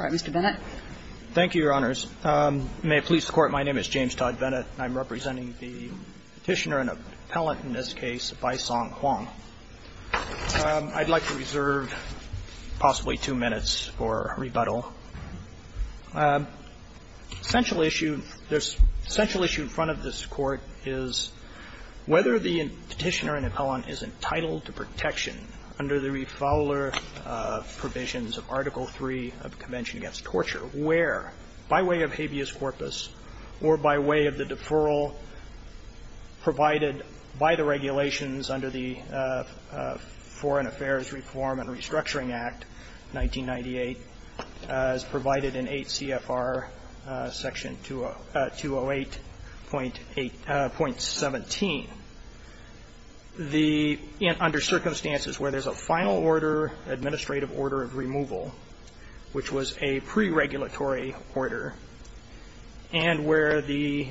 All right. Mr. Bennett. Thank you, Your Honors. May it please the Court, my name is James Todd Bennett. I'm representing the Petitioner and Appellant in this case, Baisong Huang. I'd like to reserve possibly two minutes for rebuttal. The essential issue in front of this Court is whether the Petitioner and Appellant is entitled to protection under the refowler provisions of Article III of the Convention Against Torture, where, by way of habeas corpus or by way of the deferral provided by the regulations under the Foreign Affairs Reform and Restructuring Act 1998, as provided in 8 CFR Section 208.8.17, the under circumstances where there's a final order, administrative order of removal, which was a pre-regulatory order, and where the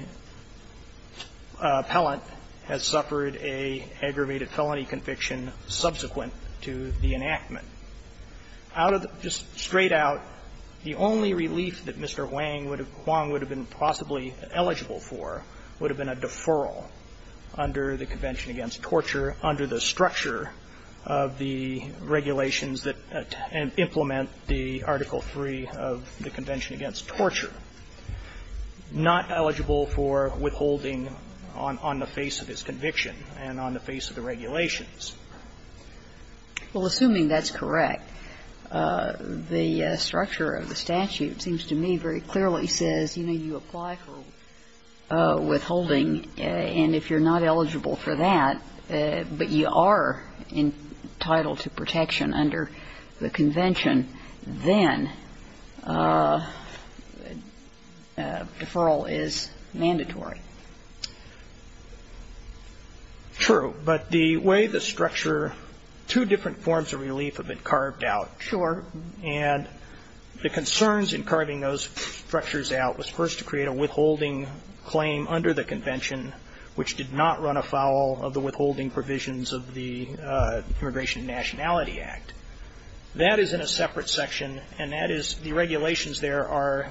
appellant has suffered an aggravated felony conviction subsequent to the enactment. Out of the – just straight out, the only relief that Mr. Huang would have been possibly eligible for would have been a deferral under the Convention Against Torture under the structure of the regulations that implement the Article III of the Convention Against Torture, not eligible for withholding on the face of his conviction and on the face of the regulations. Well, assuming that's correct, the structure of the statute seems to me very clearly says, you know, you apply for withholding, and if you're not eligible for that, but you are entitled to protection under the convention, then deferral is mandatory. True. But the way the structure – two different forms of relief have been carved out, sure, and the concerns in carving those structures out was first to create a withholding claim under the convention, which did not run afoul of the withholding provisions of the Immigration and Nationality Act. That is in a separate section, and that is the regulations there are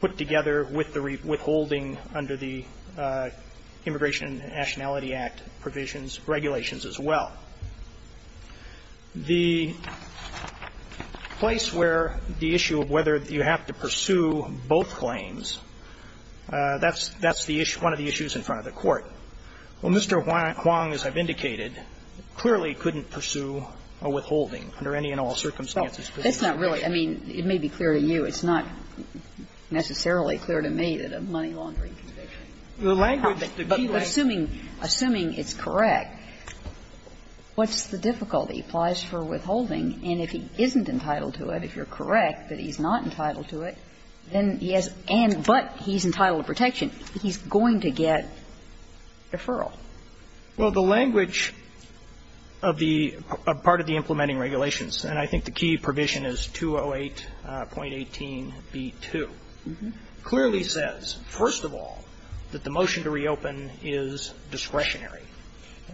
put together with the withholding under the Immigration and Nationality Act provisions, regulations as well. The place where the issue of whether you have to pursue both claims, that's the issue – one of the issues in front of the Court. Well, Mr. Huang, as I've indicated, clearly couldn't pursue a withholding under any and all circumstances. Well, that's not really – I mean, it may be clear to you. It's not necessarily clear to me that a money laundering conviction would have that – assuming it's correct, what's the difficulty? It applies for withholding, and if he isn't entitled to it, if you're correct that he's not entitled to it, then he has – but he's entitled to protection, he's going to get deferral. Well, the language of the – part of the implementing regulations, and I think the key provision is 208.18b2, clearly says, first of all, that the motion to reopen is discretionary.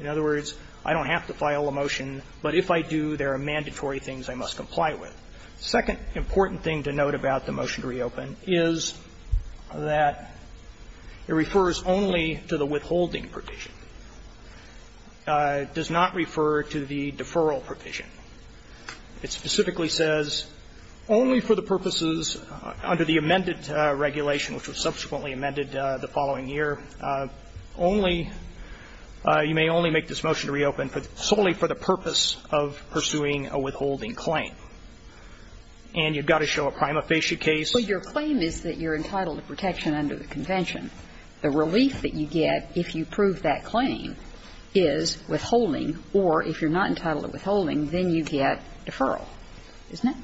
In other words, I don't have to file a motion, but if I do, there are mandatory things I must comply with. Second important thing to note about the motion to reopen is that it refers only to the withholding provision. It does not refer to the deferral provision. It specifically says, only for the purposes under the amended regulation, which was subsequently amended the following year, only – you may only make this motion to reopen solely for the purpose of pursuing a withholding claim. And you've got to show a prima facie case. Well, your claim is that you're entitled to protection under the convention. The relief that you get if you prove that claim is withholding, or if you're not entitled to withholding, then you get deferral, isn't it?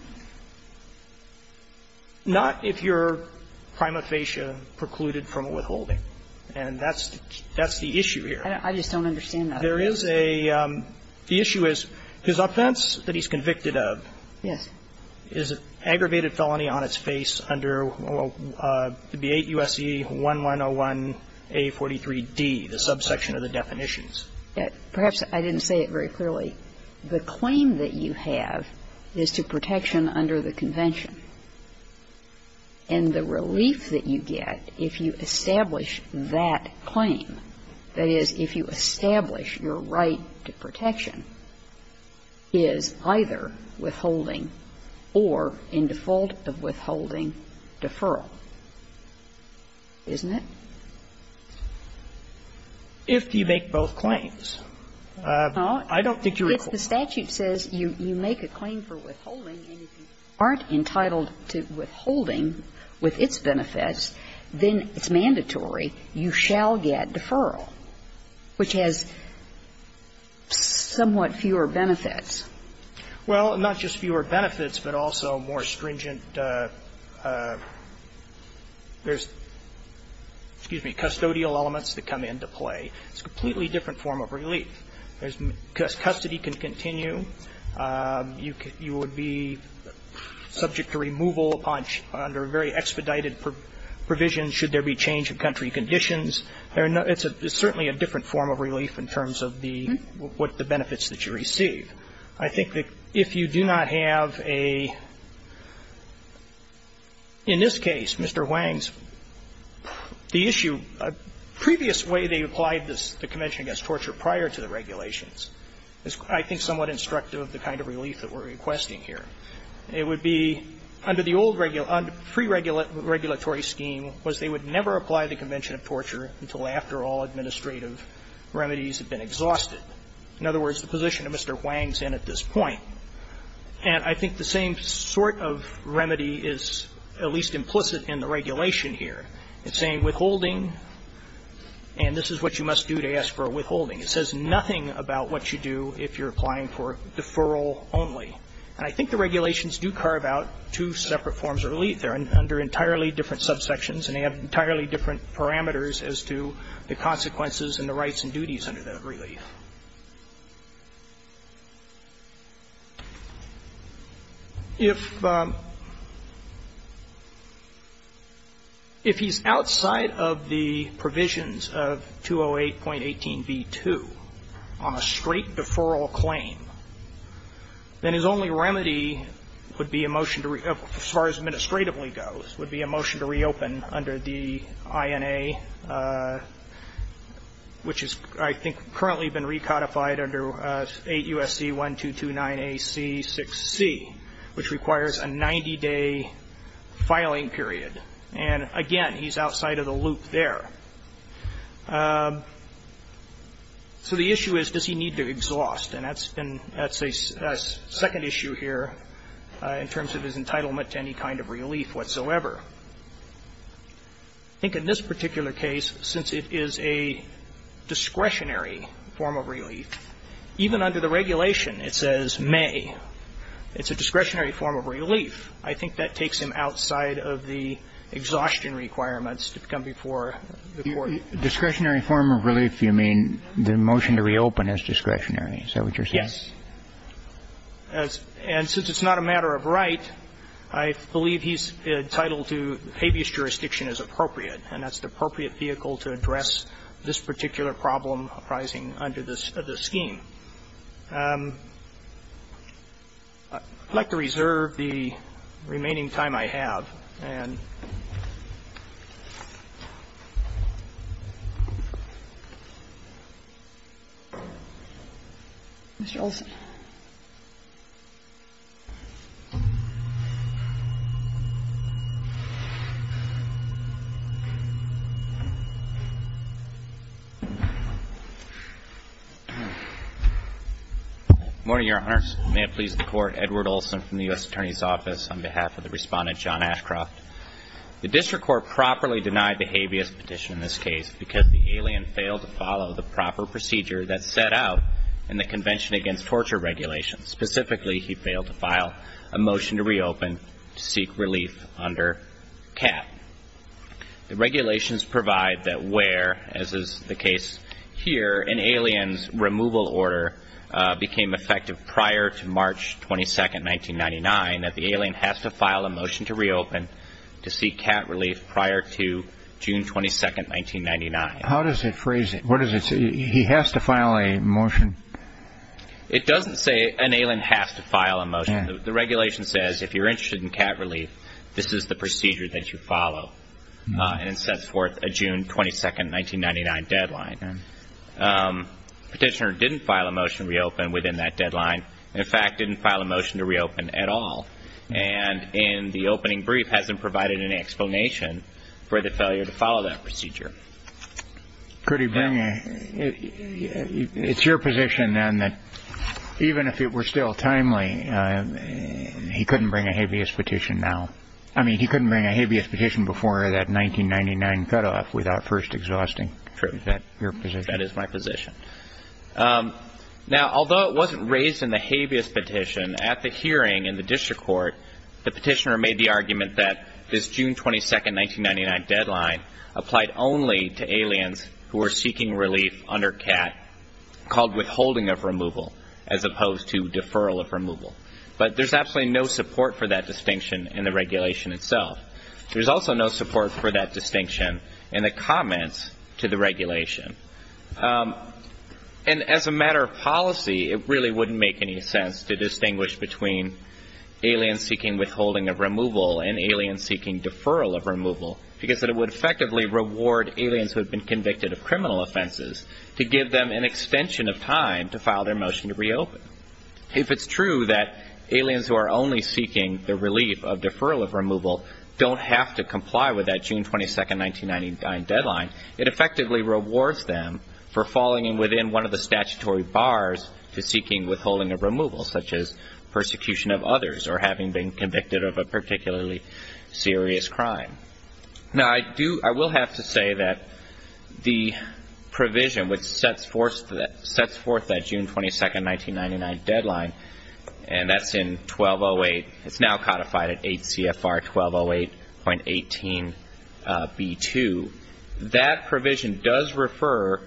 Not if you're prima facie precluded from withholding. And that's the issue here. I just don't understand that. There is a – the issue is his offense that he's convicted of is an aggravated felony on its face under the 8 U.S.C. 1101A43D, the subsection of the definitions. Perhaps I didn't say it very clearly. The claim that you have is to protection under the convention. And the relief that you get if you establish that claim, that is, if you establish your right to protection, is either withholding or in default of withholding deferral, isn't it? If you make both claims. I don't think you're equal. If the statute says you make a claim for withholding and if you aren't entitled to withholding with its benefits, then it's mandatory, you shall get deferral, which has somewhat fewer benefits. Well, not just fewer benefits, but also more stringent – there's, excuse me, custodial elements that come into play. It's a completely different form of relief. There's – custody can continue. You would be subject to removal under very expedited provisions should there be change of country conditions. It's certainly a different form of relief in terms of the benefits that you receive. I think that if you do not have a – in this case, Mr. Wang's, the issue – previous way they applied the Convention against Torture prior to the regulations is, I think, somewhat instructive of the kind of relief that we're requesting here. It would be under the old pre-regulatory scheme was they would never apply the Convention of Torture until after all administrative remedies had been exhausted. In other words, the position that Mr. Wang's in at this point. And I think the same sort of remedy is at least implicit in the regulation here. It's saying withholding, and this is what you must do to ask for a withholding. It says nothing about what you do if you're applying for deferral only. They're under entirely different subsections, and they have entirely different parameters as to the consequences and the rights and duties under that relief. If he's outside of the provisions of 208.18b2 on a straight deferral claim, then his only option here is to go ahead and file a 90-day filing period, and that's the only option that currently goes, would be a motion to reopen under the INA, which has, I think, currently been recodified under 8 U.S.C. 1229AC6C, which requires a 90-day filing period, and again, he's outside of the loop there. So the issue is, does he need to exhaust, and that's a second issue here in terms of his entitlement to any kind of relief whatsoever. I think in this particular case, since it is a discretionary form of relief, even under the regulation it says may, it's a discretionary form of relief. I think that takes him outside of the exhaustion requirements to come before the Court. Discretionary form of relief, you mean the motion to reopen is discretionary, is that what you're saying? Yes. And since it's not a matter of right, I believe he's entitled to habeas jurisdiction as appropriate, and that's the appropriate vehicle to address this particular problem arising under this scheme. I'd like to reserve the remaining time I have, and Mr. Olson. Good morning, Your Honors. May it please the Court, Edward Olson from the U.S. Attorney's Office on behalf of the Respondent, John Ashcroft. The District Court properly denied the habeas petition in this case because the alien failed to follow the proper procedure that's set out in the Convention Against Torture Regulations. Specifically, he failed to file a motion to reopen to seek relief under CAT. The regulations provide that where, as is the case here, an alien's removal order became effective prior to March 22, 1999, that the alien has to file a motion to reopen to seek CAT relief prior to June 22, 1999. How does it phrase it? What does it say? He has to file a motion? It doesn't say an alien has to file a motion. The regulation says if you're interested in CAT relief, this is the procedure that you follow, and it sets forth a June 22, 1999 deadline. Petitioner didn't file a motion to reopen within that deadline, and in fact, didn't file a motion to reopen at all. And in the opening brief, hasn't provided any explanation for the failure to follow that procedure. It's your position, then, that even if it were still timely, he couldn't bring a habeas petition now. I mean, he couldn't bring a habeas petition before that 1999 cutoff without first exhausting your position. True. That is my position. Now, although it wasn't raised in the habeas petition, at the hearing in the district court, the petitioner made the argument that this June 22, 1999 deadline applied only to aliens who were seeking relief under CAT, called withholding of removal, as opposed to deferral of removal. But there's absolutely no support for that distinction in the regulation itself. There's also no support for that distinction in the comments to the regulation. And as a matter of policy, it really wouldn't make any sense to distinguish between alien seeking withholding of removal and alien seeking deferral of removal, because it would effectively reward aliens who have been convicted of criminal offenses to give them an extension of time to file their motion to reopen. If it's true that aliens who are only seeking the relief of deferral of removal don't have to comply with that June 22, 1999 deadline, it effectively rewards them for falling within one of the statutory bars to seeking withholding of removal, such as persecution of others or having been convicted of a particularly serious crime. Now I do, I will have to say that the provision which sets forth that June 22, 1999 deadline, and that's in 1208, it's now codified at 8 CFR 1208.18 B2, that provision does refer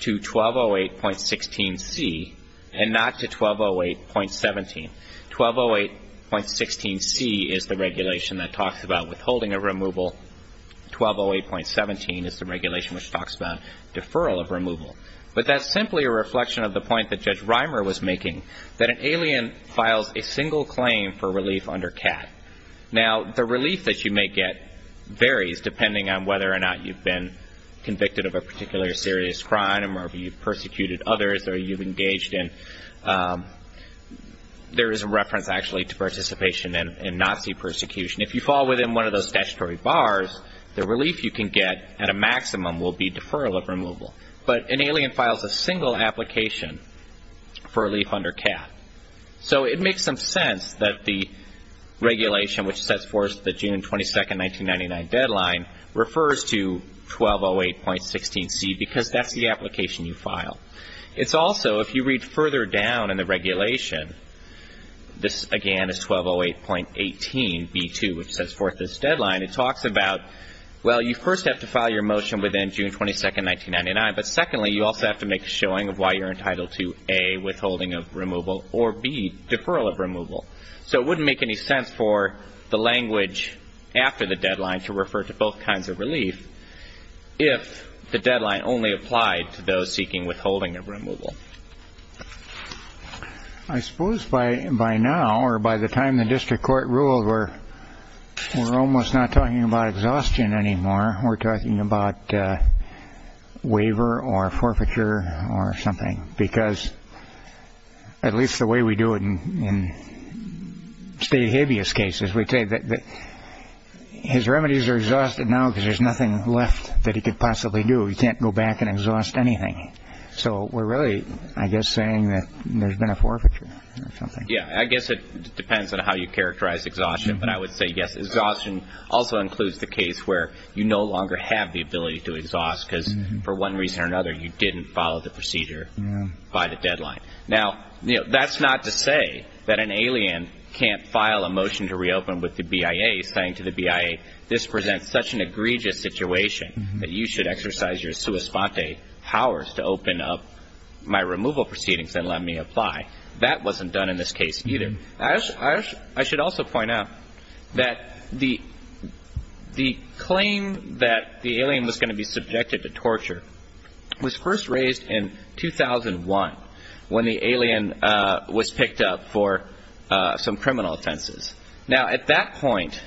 to 1208.16 C and not to 1208.17. 1208.16 C is the regulation that talks about withholding of removal, 1208.17 is the regulation which talks about deferral of removal. But that's simply a reflection of the point that Judge Reimer was making, that an alien files a single claim for relief under CAT. Now the relief that you may get varies depending on whether or not you've been convicted of a particular serious crime or you've persecuted others or you've engaged in, there is a reference actually to participation in Nazi persecution. If you fall within one of those statutory bars, the relief you can get at a maximum will be deferral of removal. But an alien files a single application for relief under CAT. So it makes some sense that the regulation which sets forth the June 22, 1999 deadline refers to 1208.16 C because that's the application you file. It's also, if you read further down in the regulation, this again is 1208.18 B2 which sets forth this deadline, it talks about, well you first have to file your motion within June 22, 1999, but secondly you also have to make a showing of why you're entitled to A, withholding of removal or B, deferral of removal. So it wouldn't make any sense for the language after the deadline to refer to both kinds of relief if the deadline only applied to those seeking withholding of removal. I suppose by now or by the time the district court rules we're almost not talking about exhaustion anymore, we're talking about waiver or forfeiture or something because at least the way we do it in state habeas cases, we say that his remedies are exhausted now because there's nothing left that he could possibly do, he can't go back and exhaust anything. So we're really, I guess, saying that there's been a forfeiture or something. Yeah, I guess it depends on how you characterize exhaustion, but I would say yes, exhaustion also includes the case where you no longer have the ability to exhaust because for one reason or another you didn't follow the procedure by the deadline. Now, that's not to say that an alien can't file a motion to reopen with the BIA saying to the BIA this presents such an egregious situation that you should exercise your sua sponte powers to open up my removal proceedings and let me apply. That wasn't done in this case either. I should also point out that the claim that the alien was going to be subjected to torture was first raised in 2001 when the alien was picked up for some criminal offenses. Now at that point,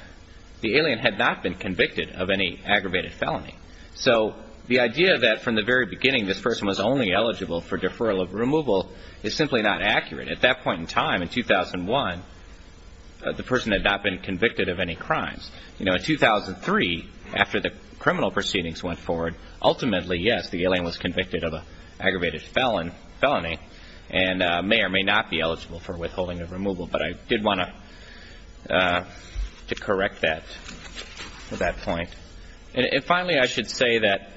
the alien had not been convicted of any aggravated felony. So the idea that from the very beginning this person was only eligible for deferral of removal is simply not accurate. At that point in time, in 2001, the person had not been convicted of any crimes. In 2003, after the criminal proceedings went forward, ultimately, yes, the alien was convicted of an aggravated felony and may or may not be eligible for withholding of removal, but I did want to correct that at that point. And finally, I should say that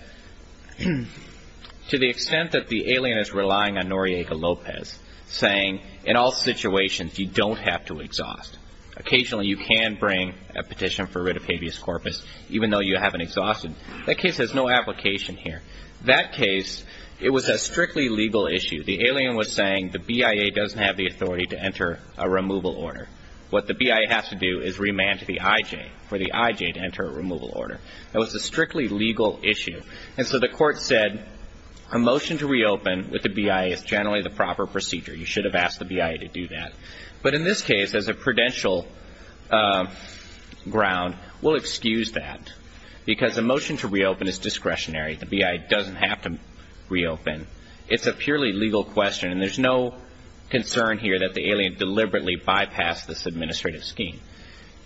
to the extent that the alien is relying on Noriega Lopez saying in all situations you don't have to exhaust, occasionally you can bring a petition for writ of habeas corpus even though you haven't exhausted, that case has no application here. That case, it was a strictly legal issue. The alien was saying the BIA doesn't have the authority to enter a removal order. What the BIA has to do is remand to the IJ for the IJ to enter a removal order. That was a strictly legal issue. And so the court said a motion to reopen with the BIA is generally the proper procedure. You should have asked the BIA to do that. But in this case, as a prudential ground, we'll excuse that because a motion to reopen is discretionary. The BIA doesn't have to reopen. It's a purely legal question, and there's no concern here that the alien deliberately bypassed this administrative scheme.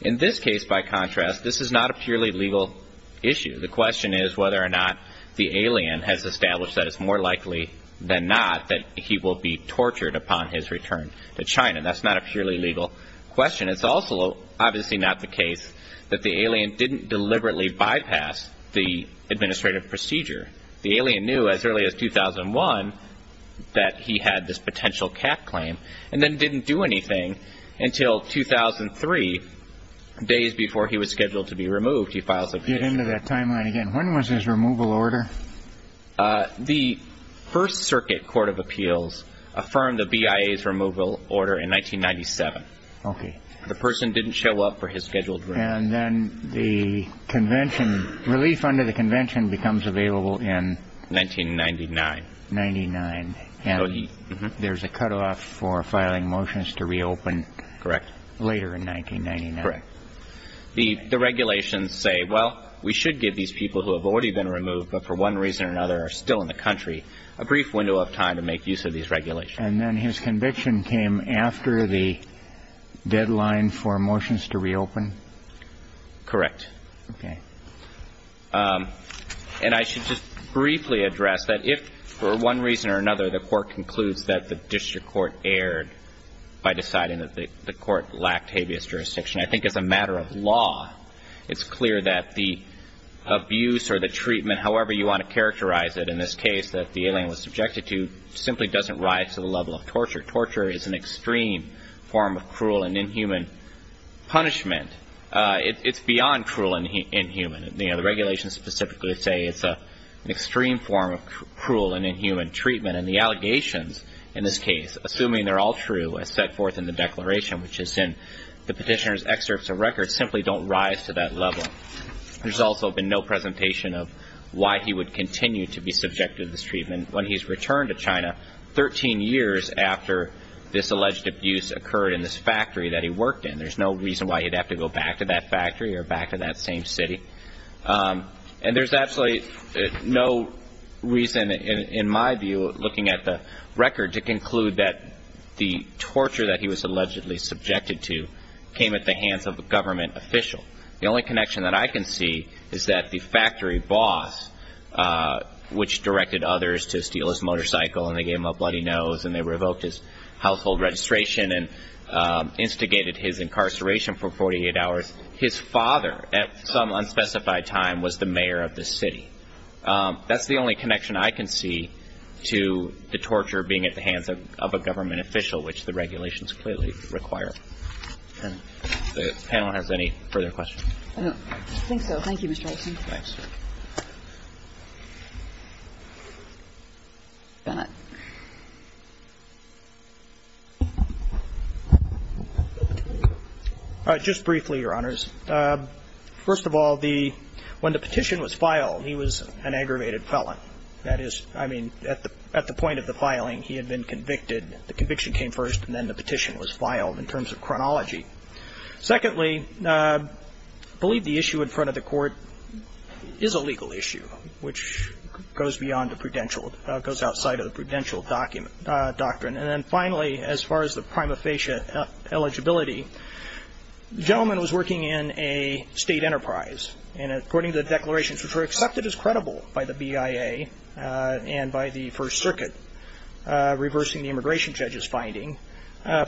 In this case, by contrast, this is not a purely legal issue. The question is whether or not the alien has established that it's more likely than not that he will be tortured upon his return to China. That's not a purely legal question. It's also obviously not the case that the alien didn't deliberately bypass the administrative procedure. The alien knew as early as 2001 that he had this potential cat claim and then didn't do anything until 2003, days before he was scheduled to be removed. He files a case. Get into that timeline again. When was his removal order? The First Circuit Court of Appeals affirmed the BIA's removal order in 1997. Okay. The person didn't show up for his scheduled release. And then the convention, relief under the convention becomes available in? 1999. 99. And there's a cutoff for filing motions to reopen. Correct. Later in 1999. Correct. The regulations say, well, we should give these people who have already been removed but for one reason or another are still in the country a brief window of time to make use of these regulations. And then his conviction came after the deadline for motions to reopen? Correct. Okay. And I should just briefly address that if for one reason or another the court concludes that the district court erred by deciding that the court lacked habeas jurisdiction, I think as a matter of law it's clear that the abuse or the treatment, however you want to characterize it in this case, that the alien was subjected to simply doesn't rise to the level of torture. Torture is an extreme form of cruel and inhuman punishment. It's beyond cruel and inhuman. The regulations specifically say it's an extreme form of cruel and inhuman treatment. And the allegations in this case, assuming they're all true, as set forth in the declaration, which is in the petitioner's excerpts of records, simply don't rise to that level. There's also been no presentation of why he would continue to be subjected to this treatment when he's returned to China 13 years after this alleged abuse occurred in this factory that he worked in. There's no reason why he'd have to go back to that factory or back to that same city. And there's absolutely no reason, in my view, looking at the record to conclude that the torture that he was allegedly subjected to came at the hands of a government official. The only connection that I can see is that the factory boss, which directed others to steal his motorcycle and they gave him a bloody nose and they revoked his household registration and instigated his incarceration for 48 hours, his father at some unspecified time was the mayor of the city. That's the only connection I can see to the torture being at the hands of a government official, which the regulations clearly require. The panel has any further questions? I don't think so. Thank you, Mr. Aitken. Thanks. Mr. Bennett. Just briefly, Your Honors. First of all, when the petition was filed, he was an aggravated felon. That is, I mean, at the point of the filing, he had been convicted. The conviction came first and then the petition was filed in terms of chronology. Secondly, I believe the issue in front of the court is a legal issue, which goes outside of the prudential doctrine. And then finally, as far as the prima facie eligibility, the gentleman was working in a state enterprise, and according to the declarations, which were accepted as credible by the BIA and by the First Circuit, reversing the immigration judge's finding,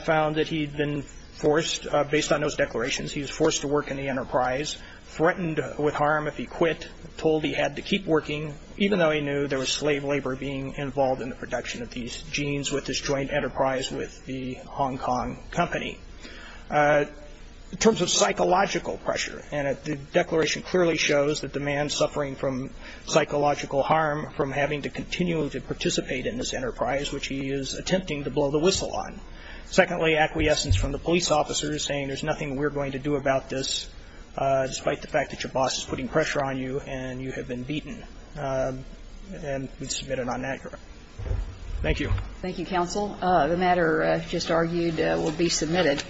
found that he had been forced, based on those declarations, he was forced to work in the enterprise, threatened with harm if he quit, told he had to keep working, even though he knew there was slave labor being involved in the production of these genes with this joint enterprise with the Hong Kong company. In terms of psychological pressure, and the declaration clearly shows that the man suffering from psychological harm from having to continue to participate in this enterprise, which he is attempting to blow the whistle on. Secondly, acquiescence from the police officer saying, there's nothing we're going to do about this, despite the fact that your boss is putting pressure on you and you have been beaten. And we submit it on that ground. Thank you. Thank you, counsel. The matter just argued will be submitted.